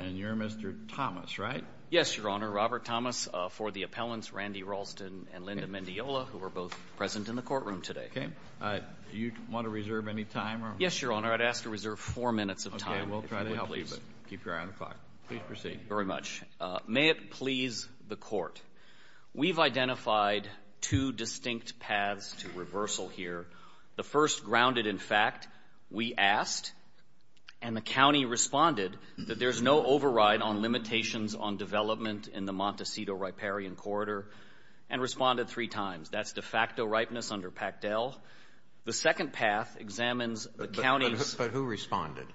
And you're Mr. Thomas, right? Yes, Your Honor. Robert Thomas, for the appellants Randy Ralston and Linda Mendiola, who are both present in the courtroom today. Okay. Do you want to reserve any time? Yes, Your Honor. I'd ask to reserve four minutes of time, if you would please. Okay. We'll try to help you, but keep your eye on the clock. Please proceed. Very much. May it please the Court. We've identified two distinct paths to reversal here. The first, grounded in fact, we asked, and the county responded that there's no override on limitations on development in the Montecito Riparian Corridor, and responded three times. That's de facto ripeness under Pactel. The second path examines the county's... But who responded?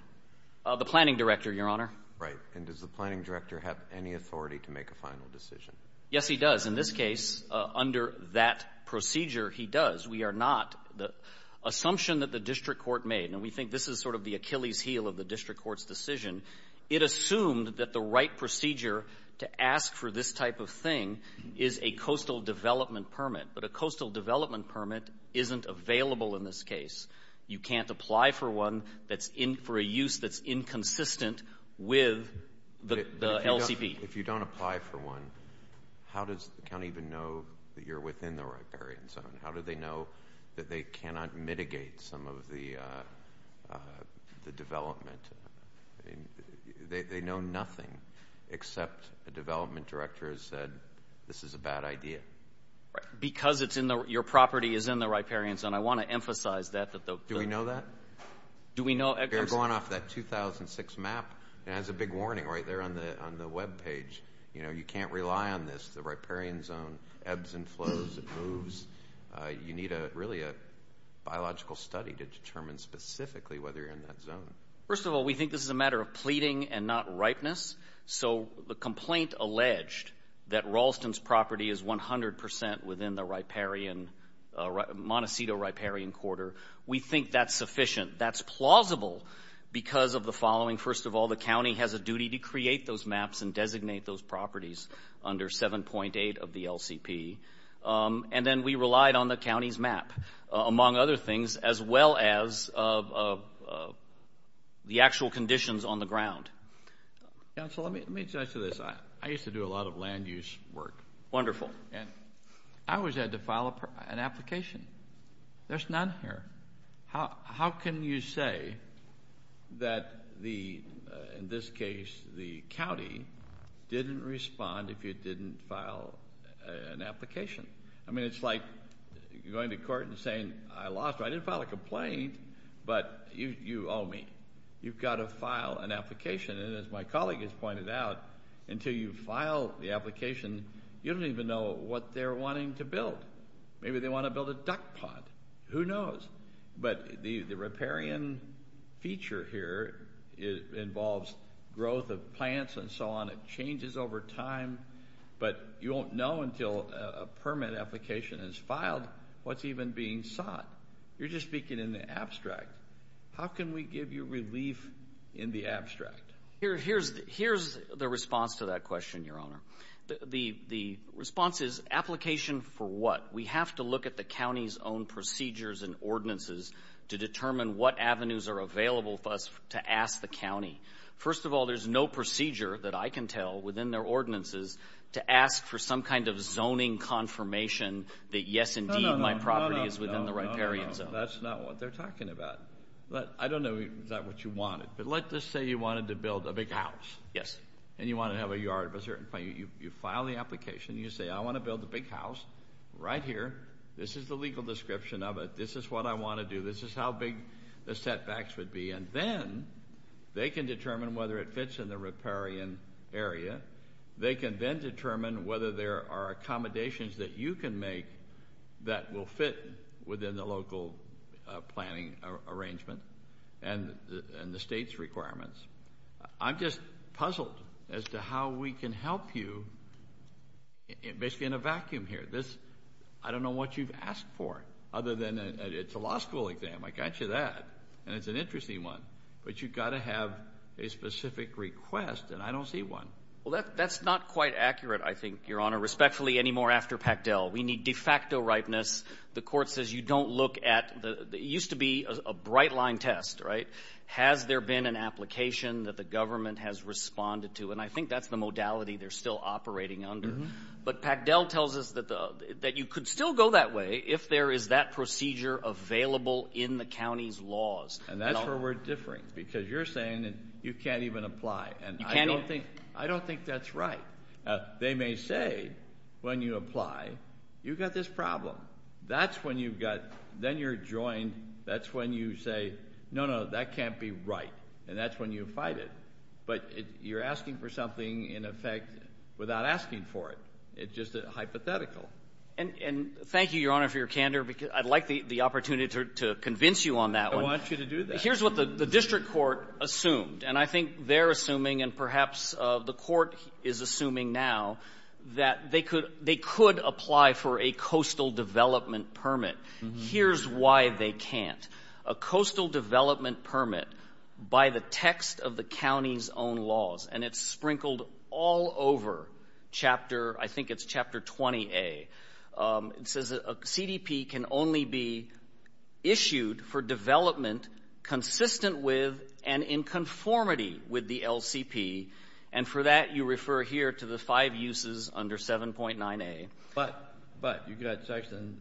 The planning director, Your Honor. Right. And does the planning director have any authority to make a final decision? Yes, he does. In this case, under that procedure, he does. We are not. The assumption that the district court made, and we think this is sort of the Achilles heel of the district court's decision, it assumed that the right procedure to ask for this type of thing is a coastal development permit. But a coastal development permit isn't available in this case. You can't apply for one that's in for a use that's inconsistent with the LCP. If you don't apply for one, how does the county even know that you're within the riparian zone? How do they know that they cannot mitigate some of the development? They know nothing except the development director has said, this is a bad idea. Because your property is in the riparian zone. I want to emphasize that. Do we know that? Do we know... If you're going off that 2006 map, it has a big warning right there on the web page. You know, you can't rely on this. The riparian zone ebbs and flows. It moves. You need really a biological study to determine specifically whether you're in that zone. First of all, we think this is a matter of pleading and not ripeness. So the complaint alleged that Ralston's property is 100% within the Montecito riparian quarter. We think that's sufficient. That's plausible because of the following. First of all, the county has a duty to create those maps and designate those properties under 7.8 of the LCP. And then we relied on the county's map, among other things, as well as the actual conditions on the ground. Counsel, let me add to this. I used to do a lot of land use work. Wonderful. I always had to file an application. There's none here. How can you say that, in this case, the county didn't respond if you didn't file an application? I mean, it's like going to court and saying, I didn't file a complaint, but you owe me. You've got to file an application. And as my colleague has pointed out, until you file the application, you don't even know what they're wanting to build. Maybe they want to build a duck pond. Who knows? But the riparian feature here involves growth of plants and so on. It changes over time. But you won't know until a permit application is filed what's even being sought. You're just speaking in the abstract. How can we give you relief in the abstract? Here's the response to that question, Your Honor. The response is, application for what? We have to look at the county's own procedures and ordinances to determine what avenues are available for us to ask the county. First of all, there's no procedure that I can tell within their ordinances to ask for some kind of zoning confirmation that, yes, indeed, my property is within the riparian zone. No, that's not what they're talking about. I don't know if that's what you wanted. But let's just say you wanted to build a big house. Yes. And you want to have a yard of a certain size. You file the application. You say, I want to build a big house right here. This is the legal description of it. This is what I want to do. This is how big the setbacks would be. And then they can determine whether it fits in the riparian area. They can then determine whether there are accommodations that you can make that will fit within the local planning arrangement and the state's requirements. I'm just puzzled as to how we can help you basically in a vacuum here. I don't know what you've asked for other than it's a law school exam. I got you that. And it's an interesting one. But you've got to have a specific request, and I don't see one. Well, that's not quite accurate, I think, Your Honor, respectfully, any more after Pactel. We need de facto ripeness. The court says you don't look at the used to be a bright line test, right? Has there been an application that the government has responded to? And I think that's the modality they're still operating under. But Pactel tells us that you could still go that way if there is that procedure available in the county's laws. And that's where we're differing because you're saying that you can't even apply. And I don't think that's right. They may say, when you apply, you've got this problem. That's when you've got then you're joined. That's when you say, no, no, that can't be right. And that's when you fight it. But you're asking for something in effect without asking for it. It's just hypothetical. And thank you, Your Honor, for your candor. I'd like the opportunity to convince you on that one. I want you to do that. Here's what the district court assumed. And I think they're assuming and perhaps the court is assuming now that they could apply for a coastal development permit. Here's why they can't. A coastal development permit by the text of the county's own laws, and it's sprinkled all over chapter, I think it's chapter 20A. It says that a CDP can only be issued for development consistent with and in conformity with the LCP. And for that, you refer here to the five uses under 7.9A. But you've got section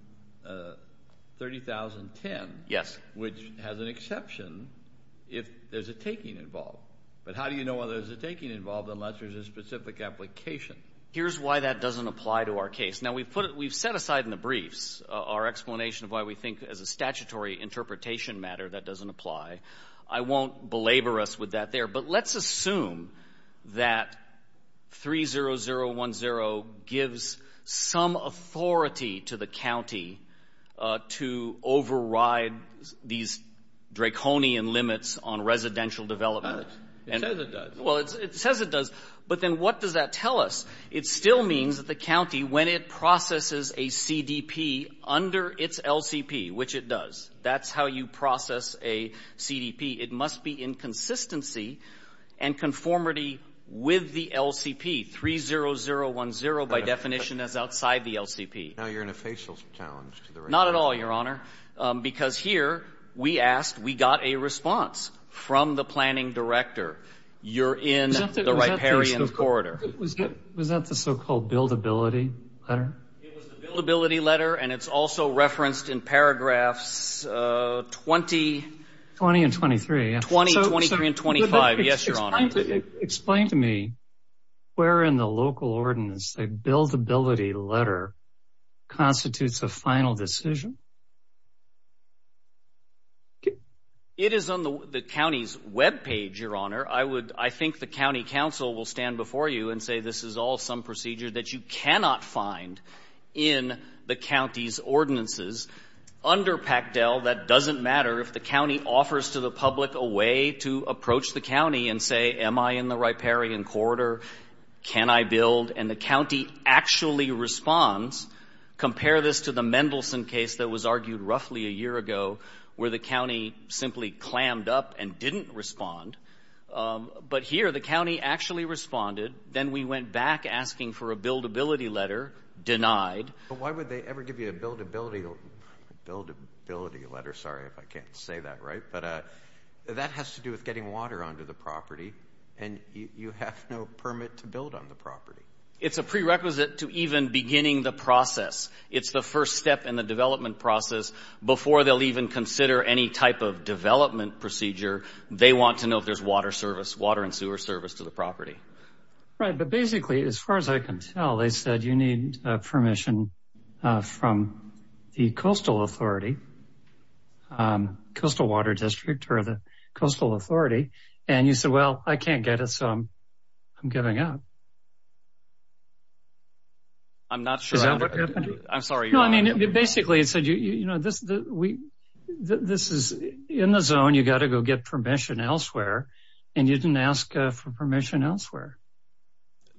30,010. Yes. Which has an exception if there's a taking involved. But how do you know whether there's a taking involved unless there's a specific application? Here's why that doesn't apply to our case. Now, we've put it we've set aside in the briefs our explanation of why we think as a statutory interpretation matter that doesn't apply. I won't belabor us with that there, but let's assume that 30010 gives some authority to the county to override these draconian limits on residential development. It says it does. Well, it says it does. But then what does that tell us? It still means that the county, when it processes a CDP under its LCP, which it does, that's how you process a CDP, it must be in consistency and conformity with the LCP. 30010, by definition, is outside the LCP. Now you're in a facial challenge. Not at all, Your Honor. Because here we asked, we got a response from the planning director. You're in the riparian corridor. Was that the so-called buildability letter? It was the buildability letter, and it's also referenced in paragraphs 20. 20 and 23. 20, 23, and 25. Yes, Your Honor. Explain to me where in the local ordinance the buildability letter constitutes a final decision. It is on the county's webpage, Your Honor. I would, I think the county council will stand before you and say this is all some procedure that you cannot find in the county's ordinances. Under PACDEL, that doesn't matter. If the county offers to the public a way to approach the county and say, am I in the riparian corridor, can I build, and the county actually responds, compare this to the Mendelson case that was argued roughly a year ago where the county simply clammed up and didn't respond. But here the county actually responded. Then we went back asking for a buildability letter, denied. But why would they ever give you a buildability letter? Sorry if I can't say that right. But that has to do with getting water onto the property, and you have no permit to build on the property. It's a prerequisite to even beginning the process. It's the first step in the development process. Before they'll even consider any type of development procedure, they want to know if there's water and sewer service to the property. Right, but basically, as far as I can tell, they said you need permission from the coastal authority, coastal water district or the coastal authority, and you said, well, I can't get it, so I'm giving up. I'm not sure. Is that what happened? I'm sorry. No, I mean, basically it said, you know, this is in the zone. You've got to go get permission elsewhere, and you didn't ask for permission elsewhere.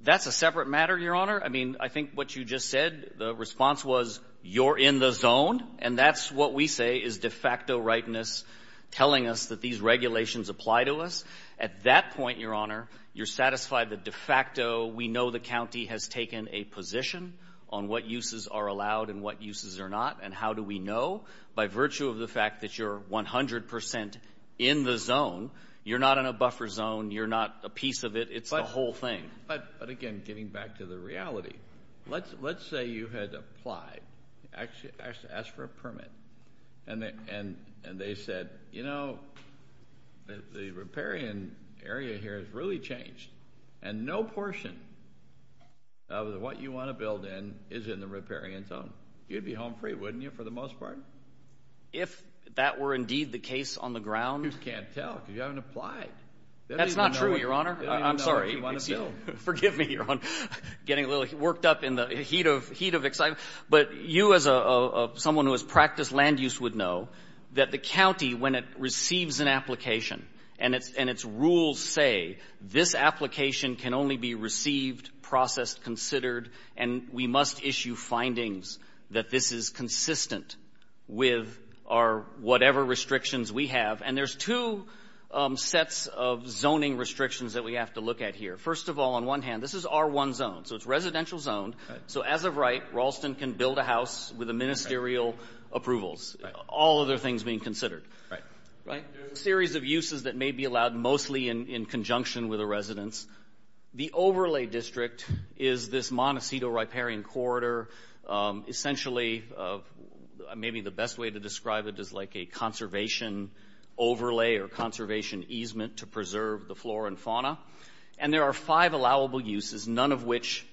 That's a separate matter, Your Honor. I mean, I think what you just said, the response was you're in the zone, and that's what we say is de facto rightness telling us that these regulations apply to us. At that point, Your Honor, you're satisfied that de facto we know the county has taken a position on what uses are allowed and what uses are not, and how do we know? By virtue of the fact that you're 100% in the zone, you're not in a buffer zone, you're not a piece of it, it's the whole thing. But, again, getting back to the reality, let's say you had applied. You actually asked for a permit, and they said, you know, the riparian area here has really changed, and no portion of what you want to build in is in the riparian zone. You'd be home free, wouldn't you, for the most part? If that were indeed the case on the ground. You can't tell because you haven't applied. That's not true, Your Honor. I'm sorry. Forgive me, Your Honor. I'm getting a little worked up in the heat of excitement. But you, as someone who has practiced land use, would know that the county, when it receives an application and its rules say this application can only be received, processed, considered, and we must issue findings that this is consistent with our whatever restrictions we have. And there's two sets of zoning restrictions that we have to look at here. First of all, on one hand, this is R1 zone, so it's residential zone. So as of right, Ralston can build a house with the ministerial approvals, all other things being considered. Right. There's a series of uses that may be allowed mostly in conjunction with a residence. The overlay district is this Montecito riparian corridor. Essentially, maybe the best way to describe it is like a conservation overlay or conservation easement to preserve the flora and fauna. And there are five allowable uses, none of which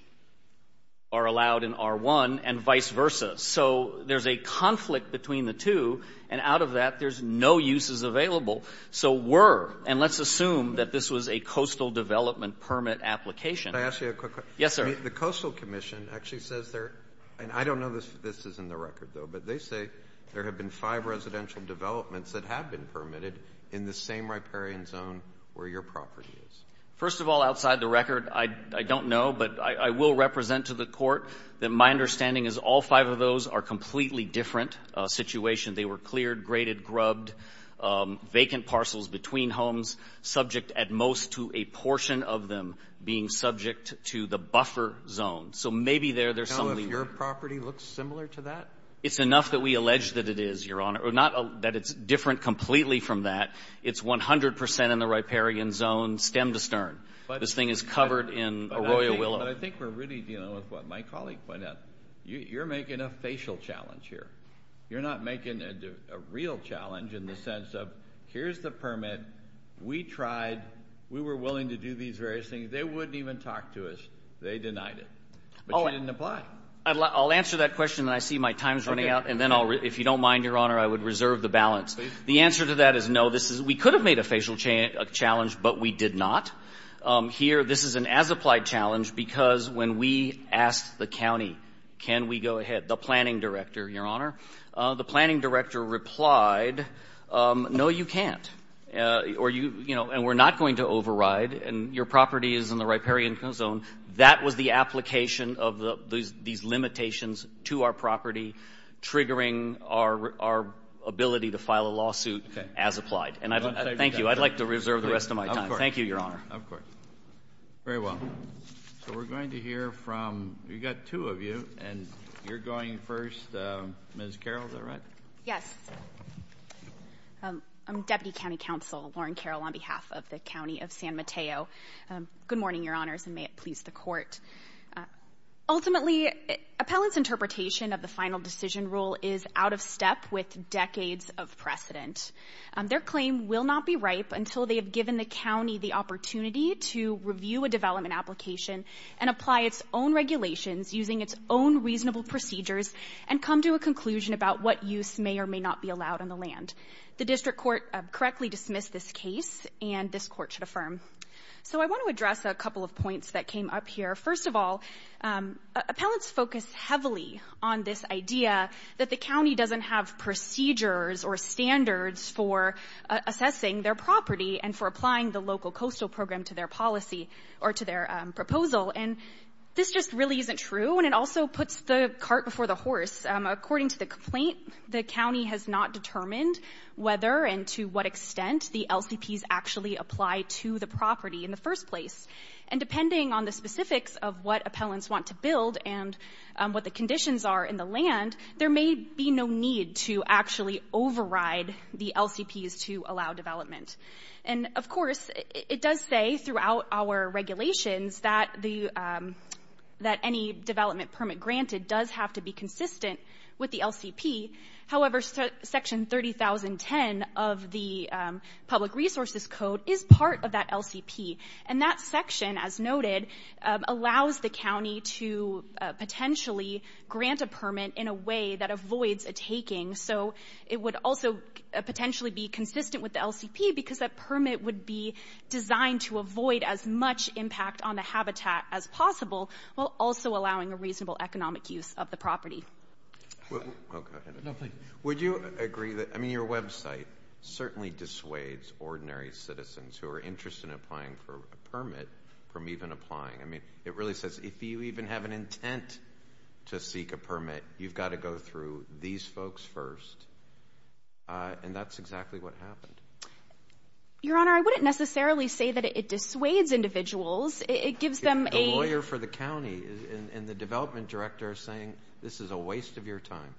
are allowed in R1 and vice versa. So there's a conflict between the two, and out of that there's no uses available. So were, and let's assume that this was a coastal development permit application. Can I ask you a quick question? Yes, sir. The Coastal Commission actually says there, and I don't know if this is in the record, though, but they say there have been five residential developments that have been permitted in the same riparian zone where your property is. First of all, outside the record, I don't know, but I will represent to the court that my understanding is all five of those are completely different situations. They were cleared, graded, grubbed, vacant parcels between homes, subject at most to a portion of them being subject to the buffer zone. So maybe there, there's something. I don't know if your property looks similar to that. It's enough that we allege that it is, Your Honor. Not that it's different completely from that. It's 100 percent in the riparian zone, stem to stern. This thing is covered in arroyo willow. But I think we're really dealing with what my colleague pointed out. You're making a facial challenge here. You're not making a real challenge in the sense of here's the permit. We tried. We were willing to do these various things. They wouldn't even talk to us. They denied it. But you didn't apply. I'll answer that question when I see my time's running out, and then if you don't mind, Your Honor, I would reserve the balance. The answer to that is no. We could have made a facial challenge, but we did not. Here, this is an as-applied challenge because when we asked the county, can we go ahead, the planning director, Your Honor, the planning director replied, no, you can't. And we're not going to override, and your property is in the riparian zone. That was the application of these limitations to our property, triggering our ability to file a lawsuit as applied. Thank you. I'd like to reserve the rest of my time. Thank you, Your Honor. Of course. Very well. So we're going to hear from, we've got two of you, and you're going first. Ms. Carroll, is that right? Yes. I'm Deputy County Counsel Lauren Carroll on behalf of the County of San Mateo. Good morning, Your Honors, and may it please the Court. Ultimately, appellants' interpretation of the final decision rule is out of step with decades of precedent. Their claim will not be ripe until they have given the county the opportunity to review a development application and apply its own regulations using its own reasonable procedures and come to a conclusion about what use may or may not be allowed on the land. The District Court correctly dismissed this case, and this Court should affirm. So I want to address a couple of points that came up here. First of all, appellants focus heavily on this idea that the county doesn't have procedures or standards for assessing their property and for applying the local coastal program to their policy or to their proposal. And this just really isn't true, and it also puts the cart before the horse. According to the complaint, the county has not determined whether and to what extent the LCPs actually apply to the property in the first place. And depending on the specifics of what appellants want to build and what the conditions are in the land, there may be no need to actually override the LCPs to allow development. And, of course, it does say throughout our regulations that any development permit granted does have to be consistent with the LCP. However, Section 30010 of the Public Resources Code is part of that LCP, and that section, as noted, allows the county to potentially grant a permit in a way that avoids a taking. So it would also potentially be consistent with the LCP because that permit would be designed to avoid as much impact on the habitat as possible while also allowing a reasonable economic use of the property. Oh, go ahead. No, please. Would you agree that, I mean, your website certainly dissuades ordinary citizens who are interested in applying for a permit from even applying. I mean, it really says if you even have an intent to seek a permit, you've got to go through these folks first, and that's exactly what happened. Your Honor, I wouldn't necessarily say that it dissuades individuals. A lawyer for the county, and the development director is saying this is a waste of your time.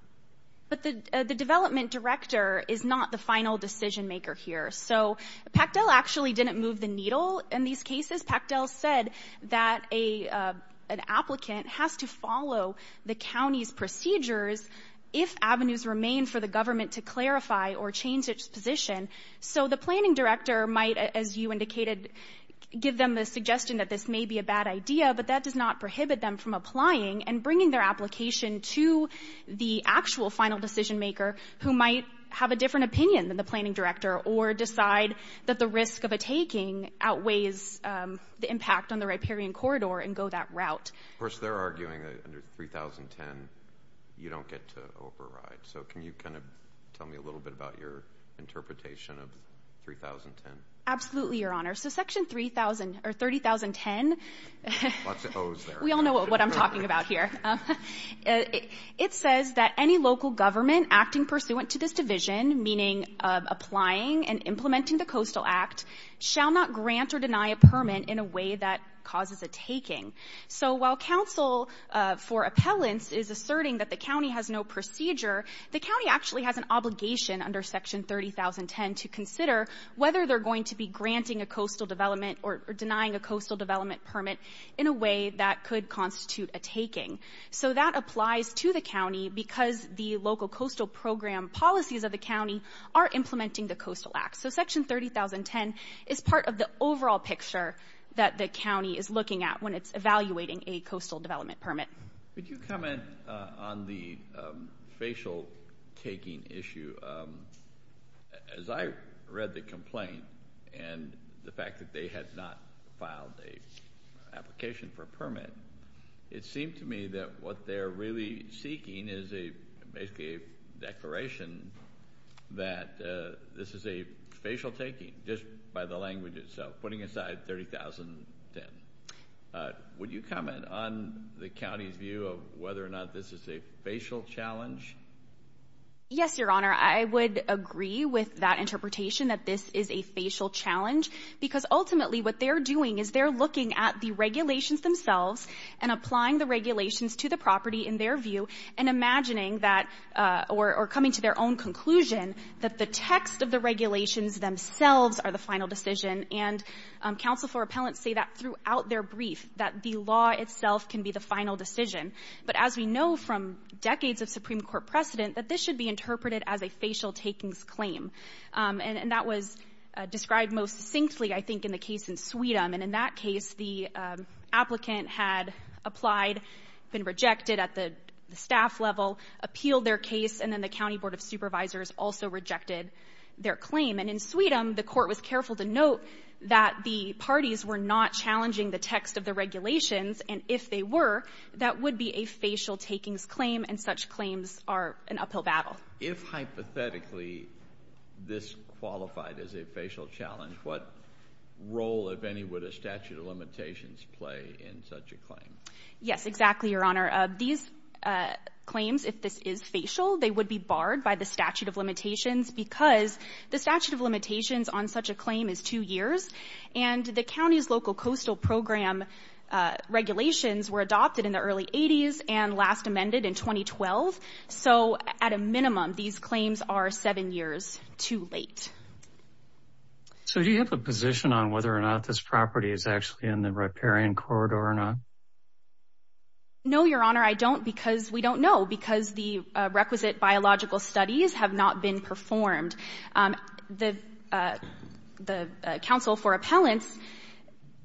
But the development director is not the final decision-maker here. So Pactel actually didn't move the needle in these cases. Pactel said that an applicant has to follow the county's procedures if avenues remain for the government to clarify or change its position. So the planning director might, as you indicated, give them the suggestion that this may be a bad idea, but that does not prohibit them from applying and bringing their application to the actual final decision-maker who might have a different opinion than the planning director or decide that the risk of a taking outweighs the impact on the riparian corridor and go that route. Of course, they're arguing that under 3010, you don't get to override. So can you kind of tell me a little bit about your interpretation of 3010? Absolutely, Your Honor. So Section 3010, we all know what I'm talking about here. It says that any local government acting pursuant to this division, meaning applying and implementing the Coastal Act, shall not grant or deny a permit in a way that causes a taking. So while counsel for appellants is asserting that the county has no procedure, the county actually has an obligation under Section 3010 to consider whether they're going to be granting a coastal development or denying a coastal development permit in a way that could constitute a taking. So that applies to the county because the local coastal program policies of the county are implementing the Coastal Act. So Section 3010 is part of the overall picture that the county is looking at when it's evaluating a coastal development permit. Would you comment on the facial taking issue? As I read the complaint and the fact that they had not filed an application for a permit, it seemed to me that what they're really seeking is basically a declaration that this is a facial taking just by the language itself, putting aside 3010. Would you comment on the county's view of whether or not this is a facial challenge? Yes, Your Honor. I would agree with that interpretation that this is a facial challenge because ultimately what they're doing is they're looking at the regulations themselves and applying the regulations to the property in their view and imagining that or coming to their own conclusion that the text of the regulations themselves are the final decision. And counsel for appellants say that throughout their brief, that the law itself can be the final decision. But as we know from decades of Supreme Court precedent, that this should be interpreted as a facial takings claim. And that was described most succinctly, I think, in the case in Sweden. And in that case, the applicant had applied, been rejected at the staff level, appealed their case, and then the county board of supervisors also rejected their claim. And in Sweden, the court was careful to note that the parties were not challenging the text of the regulations. And if they were, that would be a facial takings claim, and such claims are an uphill battle. If hypothetically this qualified as a facial challenge, what role, if any, would a statute of limitations play in such a claim? Yes, exactly, Your Honor. These claims, if this is facial, they would be barred by the statute of limitations because the statute of limitations on such a claim is two years. And the county's local coastal program regulations were adopted in the early 80s and last amended in 2012. So at a minimum, these claims are seven years too late. So do you have a position on whether or not this property is actually in the riparian corridor or not? No, Your Honor, I don't, because we don't know, because the requisite biological studies have not been performed. The Council for Appellants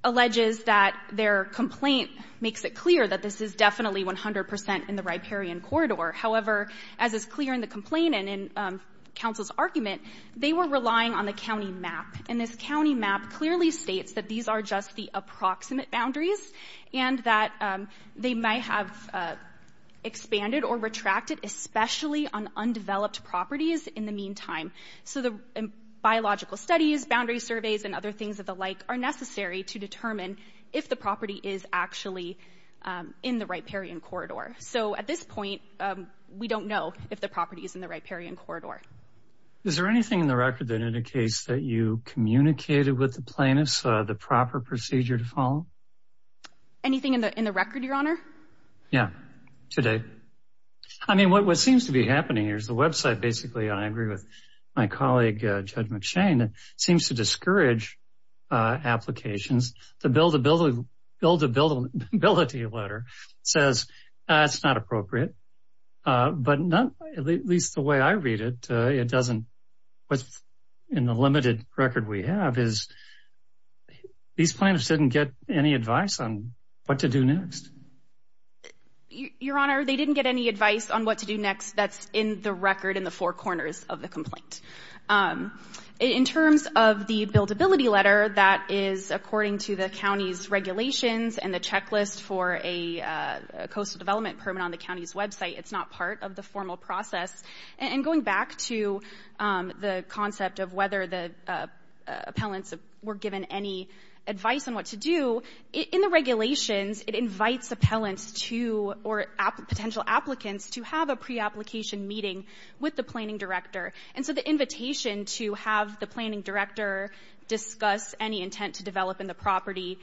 alleges that their complaint makes it clear that this is definitely 100 percent in the riparian corridor. However, as is clear in the complaint and in Council's argument, they were relying on the county map. And this county map clearly states that these are just the approximate boundaries and that they may have expanded or retracted, especially on undeveloped properties in the meantime. So the biological studies, boundary surveys, and other things of the like are necessary to determine if the property is actually in the riparian corridor. So at this point, we don't know if the property is in the riparian corridor. Is there anything in the record that indicates that you communicated with the plaintiffs the proper procedure to follow? Anything in the record, Your Honor? Yeah, to date. I mean, what seems to be happening here is the website, basically, and I agree with my colleague, Judge McShane, seems to discourage applications. The buildability letter says that's not appropriate. But at least the way I read it, it doesn't. What's in the limited record we have is these plaintiffs didn't get any advice on what to do next. Your Honor, they didn't get any advice on what to do next. That's in the record in the four corners of the complaint. In terms of the buildability letter, that is according to the county's regulations and the checklist for a coastal development permit on the county's website. It's not part of the formal process. And going back to the concept of whether the appellants were given any advice on what to do, in the regulations, it invites appellants to, or potential applicants, to have a pre-application meeting with the planning director. And so the invitation to have the planning director discuss any intent to develop in the property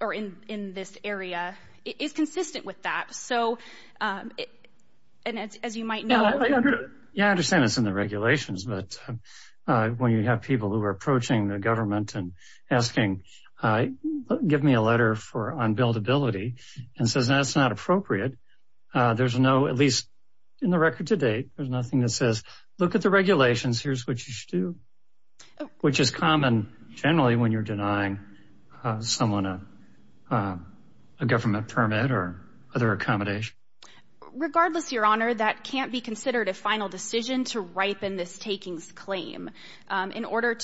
or in this area is consistent with that. So, as you might know. Yeah, I understand it's in the regulations. But when you have people who are approaching the government and asking, give me a letter on buildability, and says that's not appropriate, there's no, at least in the record to date, there's nothing that says, look at the regulations, here's what you should do. Which is common, generally, when you're denying someone a government permit or other accommodation. Regardless, Your Honor, that can't be considered a final decision to ripen this takings claim. In order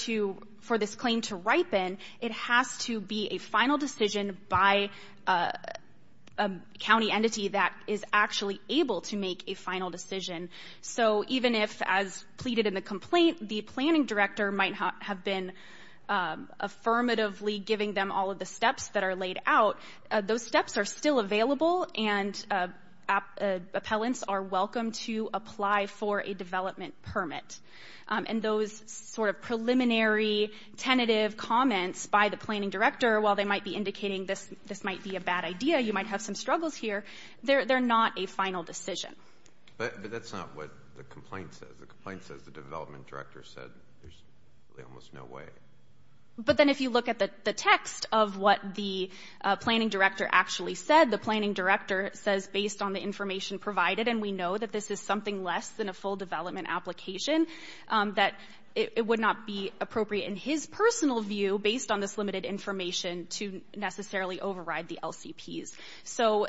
for this claim to ripen, it has to be a final decision by a county entity that is actually able to make a final decision. So even if, as pleaded in the complaint, the planning director might have been affirmatively giving them all of the steps that are laid out, those steps are still available and appellants are welcome to apply for a development permit. And those sort of preliminary, tentative comments by the planning director, while they might be indicating this might be a bad idea, you might have some struggles here, they're not a final decision. But that's not what the complaint says. The complaint says the development director said there's really almost no way. But then if you look at the text of what the planning director actually said, the planning director says based on the information provided, and we know that this is something less than a full development application, that it would not be appropriate in his personal view, based on this limited information, to necessarily override the LCPs. So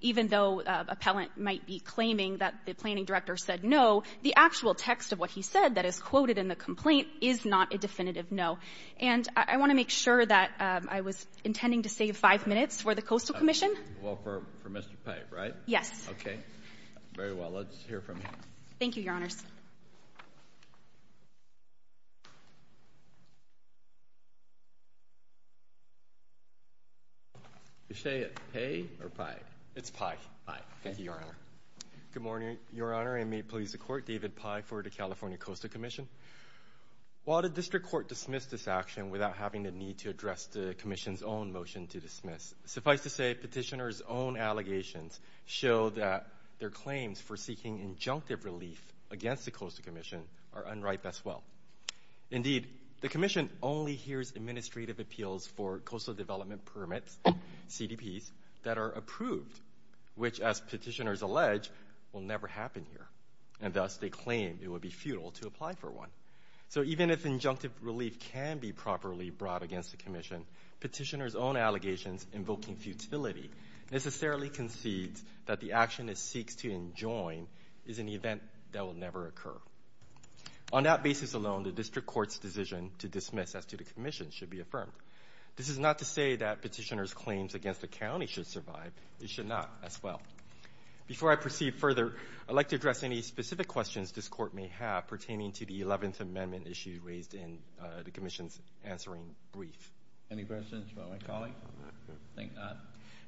even though an appellant might be claiming that the planning director said no, the actual text of what he said that is quoted in the complaint is not a definitive no. And I want to make sure that I was intending to save five minutes for the Coastal Commission. Well, for Mr. Pei, right? Yes. Okay. Very well. Let's hear from him. Thank you, Your Honors. Is she at Pei or Pei? It's Pei. Pei. Thank you, Your Honor. Good morning, Your Honor, and may it please the Court. David Pei for the California Coastal Commission. While the district court dismissed this action without having the need to address the commission's own motion to dismiss, suffice to say petitioner's own allegations show that their claims for seeking injunctive relief against the Coastal Commission are unripe as well. Indeed, the commission only hears administrative appeals for coastal development permits, CDPs, that are approved, which, as petitioners allege, will never happen here, and thus they claim it would be futile to apply for one. So even if injunctive relief can be properly brought against the commission, petitioner's own allegations invoking futility necessarily concedes that the action it seeks to enjoin is an event that will never occur. On that basis alone, the district court's decision to dismiss as to the commission should be affirmed. This is not to say that petitioner's claims against the county should survive. They should not as well. Before I proceed further, I'd like to address any specific questions this court may have pertaining to the 11th Amendment issue raised in the commission's answering brief. Any questions about my colleague? I think none.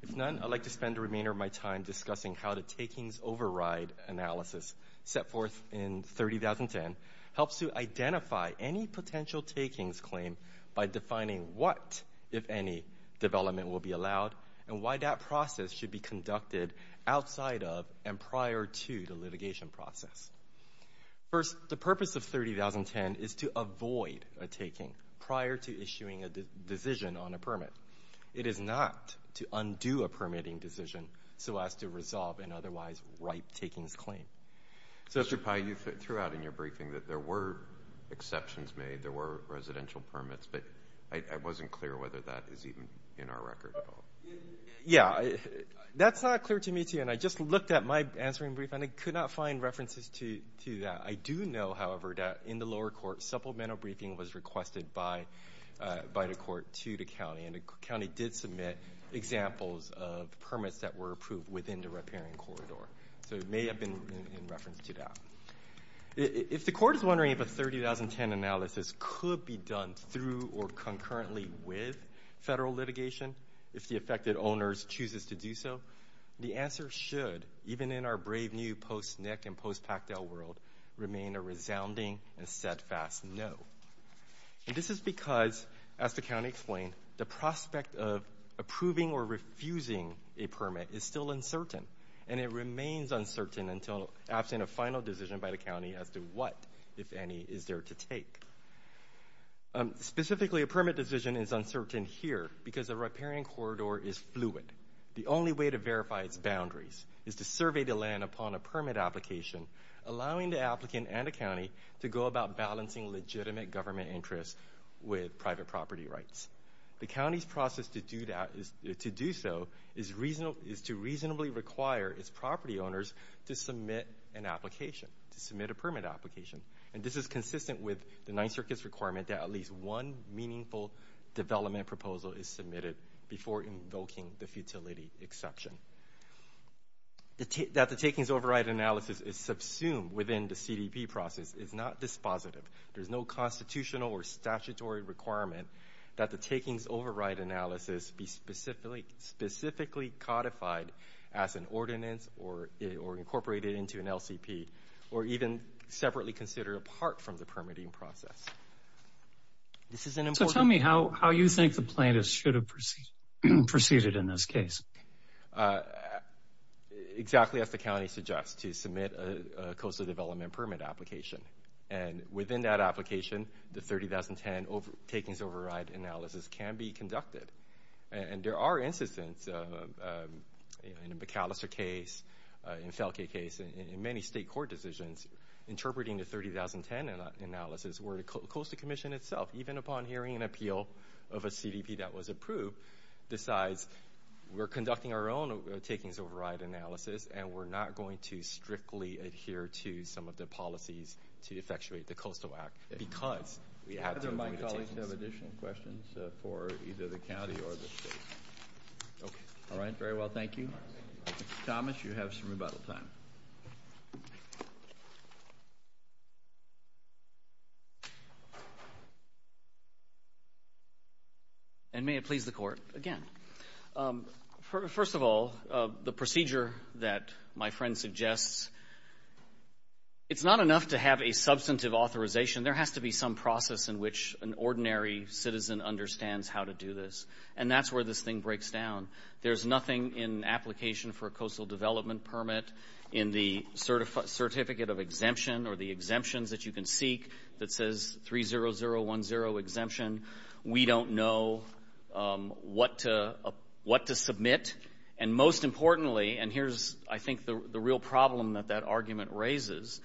If none, I'd like to spend the remainder of my time discussing how the takings override analysis set forth in 3010 helps to identify any potential takings claim by defining what, if any, development will be allowed and why that process should be conducted outside of and prior to the litigation process. First, the purpose of 3010 is to avoid a taking prior to issuing a decision on a permit. It is not to undo a permitting decision so as to resolve an otherwise ripe takings claim. Mr. Pai, you threw out in your briefing that there were exceptions made, there were residential permits, but I wasn't clear whether that is even in our record at all. Yeah, that's not clear to me, too, and I just looked at my answering brief and I could not find references to that. I do know, however, that in the lower court supplemental briefing was requested by the court to the county, and the county did submit examples of permits that were approved within the riparian corridor. So it may have been in reference to that. If the court is wondering if a 3010 analysis could be done through or concurrently with federal litigation, if the affected owners chooses to do so, the answer should, even in our brave new post-NIC and post-pactel world, remain a resounding and steadfast no. This is because, as the county explained, the prospect of approving or refusing a permit is still uncertain, and it remains uncertain until absent a final decision by the county as to what, if any, is there to take. Specifically, a permit decision is uncertain here because the riparian corridor is fluid. The only way to verify its boundaries is to survey the land upon a permit application, allowing the applicant and the county to go about balancing legitimate government interests with private property rights. The county's process to do so is to reasonably require its property owners to submit an application, to submit a permit application. And this is consistent with the Ninth Circuit's requirement that at least one meaningful development proposal is submitted before invoking the futility exception. That the takings override analysis is subsumed within the CDP process is not dispositive. There's no constitutional or statutory requirement that the takings override analysis be specifically codified as an ordinance or incorporated into an LCP or even separately considered apart from the permitting process. So tell me how you think the plaintiffs should have proceeded in this case. Exactly as the county suggests, to submit a coastal development permit application. And within that application, the 30,010 takings override analysis can be conducted. And there are instances in the McAllister case, in the Felgate case, in many state court decisions, interpreting the 30,010 analysis where the Coastal Commission itself, even upon hearing an appeal of a CDP that was approved, decides we're conducting our own takings override analysis and we're not going to strictly adhere to some of the policies to effectuate the Coastal Act because we have to. Do either of my colleagues have additional questions for either the county or the state? All right, very well, thank you. Mr. Thomas, you have some rebuttal time. And may it please the court again. First of all, the procedure that my friend suggests, it's not enough to have a substantive authorization. There has to be some process in which an ordinary citizen understands how to do this. And that's where this thing breaks down. There's nothing in application for a coastal development permit in the certificate of exemption or the exemptions that you can seek that says 30,010 exemption. We don't know what to submit. And most importantly, and here's, I think, the real problem that that argument raises,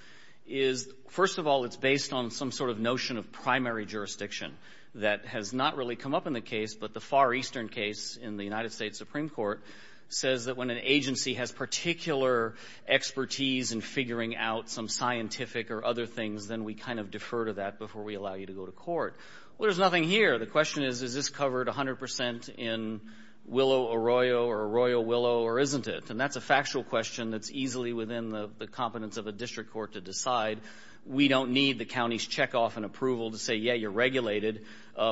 is first of all it's based on some sort of notion of primary jurisdiction that has not really come up in the case, but the Far Eastern case in the United States Supreme Court says that when an agency has particular expertise in figuring out some scientific or other things, then we kind of defer to that before we allow you to go to court. Well, there's nothing here. The question is, is this covered 100% in willow or royal or royal willow or isn't it? And that's a factual question that's easily within the competence of a district court to decide. We don't need the county's checkoff and approval to say, yeah, you're regulated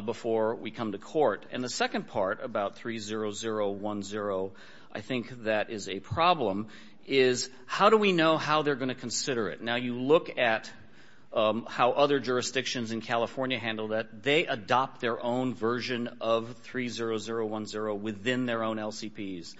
before we come to court. And the second part about 30010, I think that is a problem, is how do we know how they're going to consider it? Now, you look at how other jurisdictions in California handle that. They adopt their own version of 30010 within their own LCPs,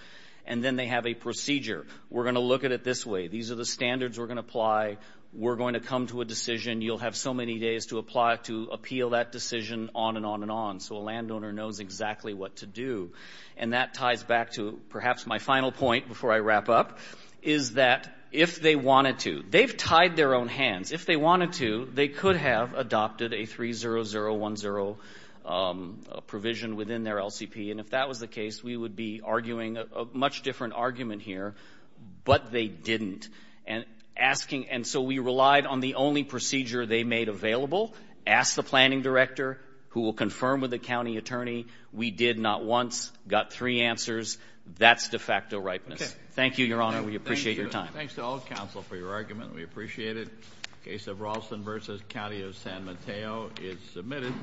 and then they have a procedure. We're going to look at it this way. These are the standards we're going to apply. We're going to come to a decision. You'll have so many days to apply to appeal that decision on and on and on, so a landowner knows exactly what to do. And that ties back to perhaps my final point before I wrap up, is that if they wanted to, they've tied their own hands. If they wanted to, they could have adopted a 30010 provision within their LCP. And if that was the case, we would be arguing a much different argument here. But they didn't. And so we relied on the only procedure they made available, asked the planning director, who will confirm with the county attorney. We did not once. Got three answers. That's de facto ripeness. Thank you, Your Honor. We appreciate your time. Thanks to all of counsel for your argument. We appreciate it. Case of Ralston v. County of San Mateo is submitted.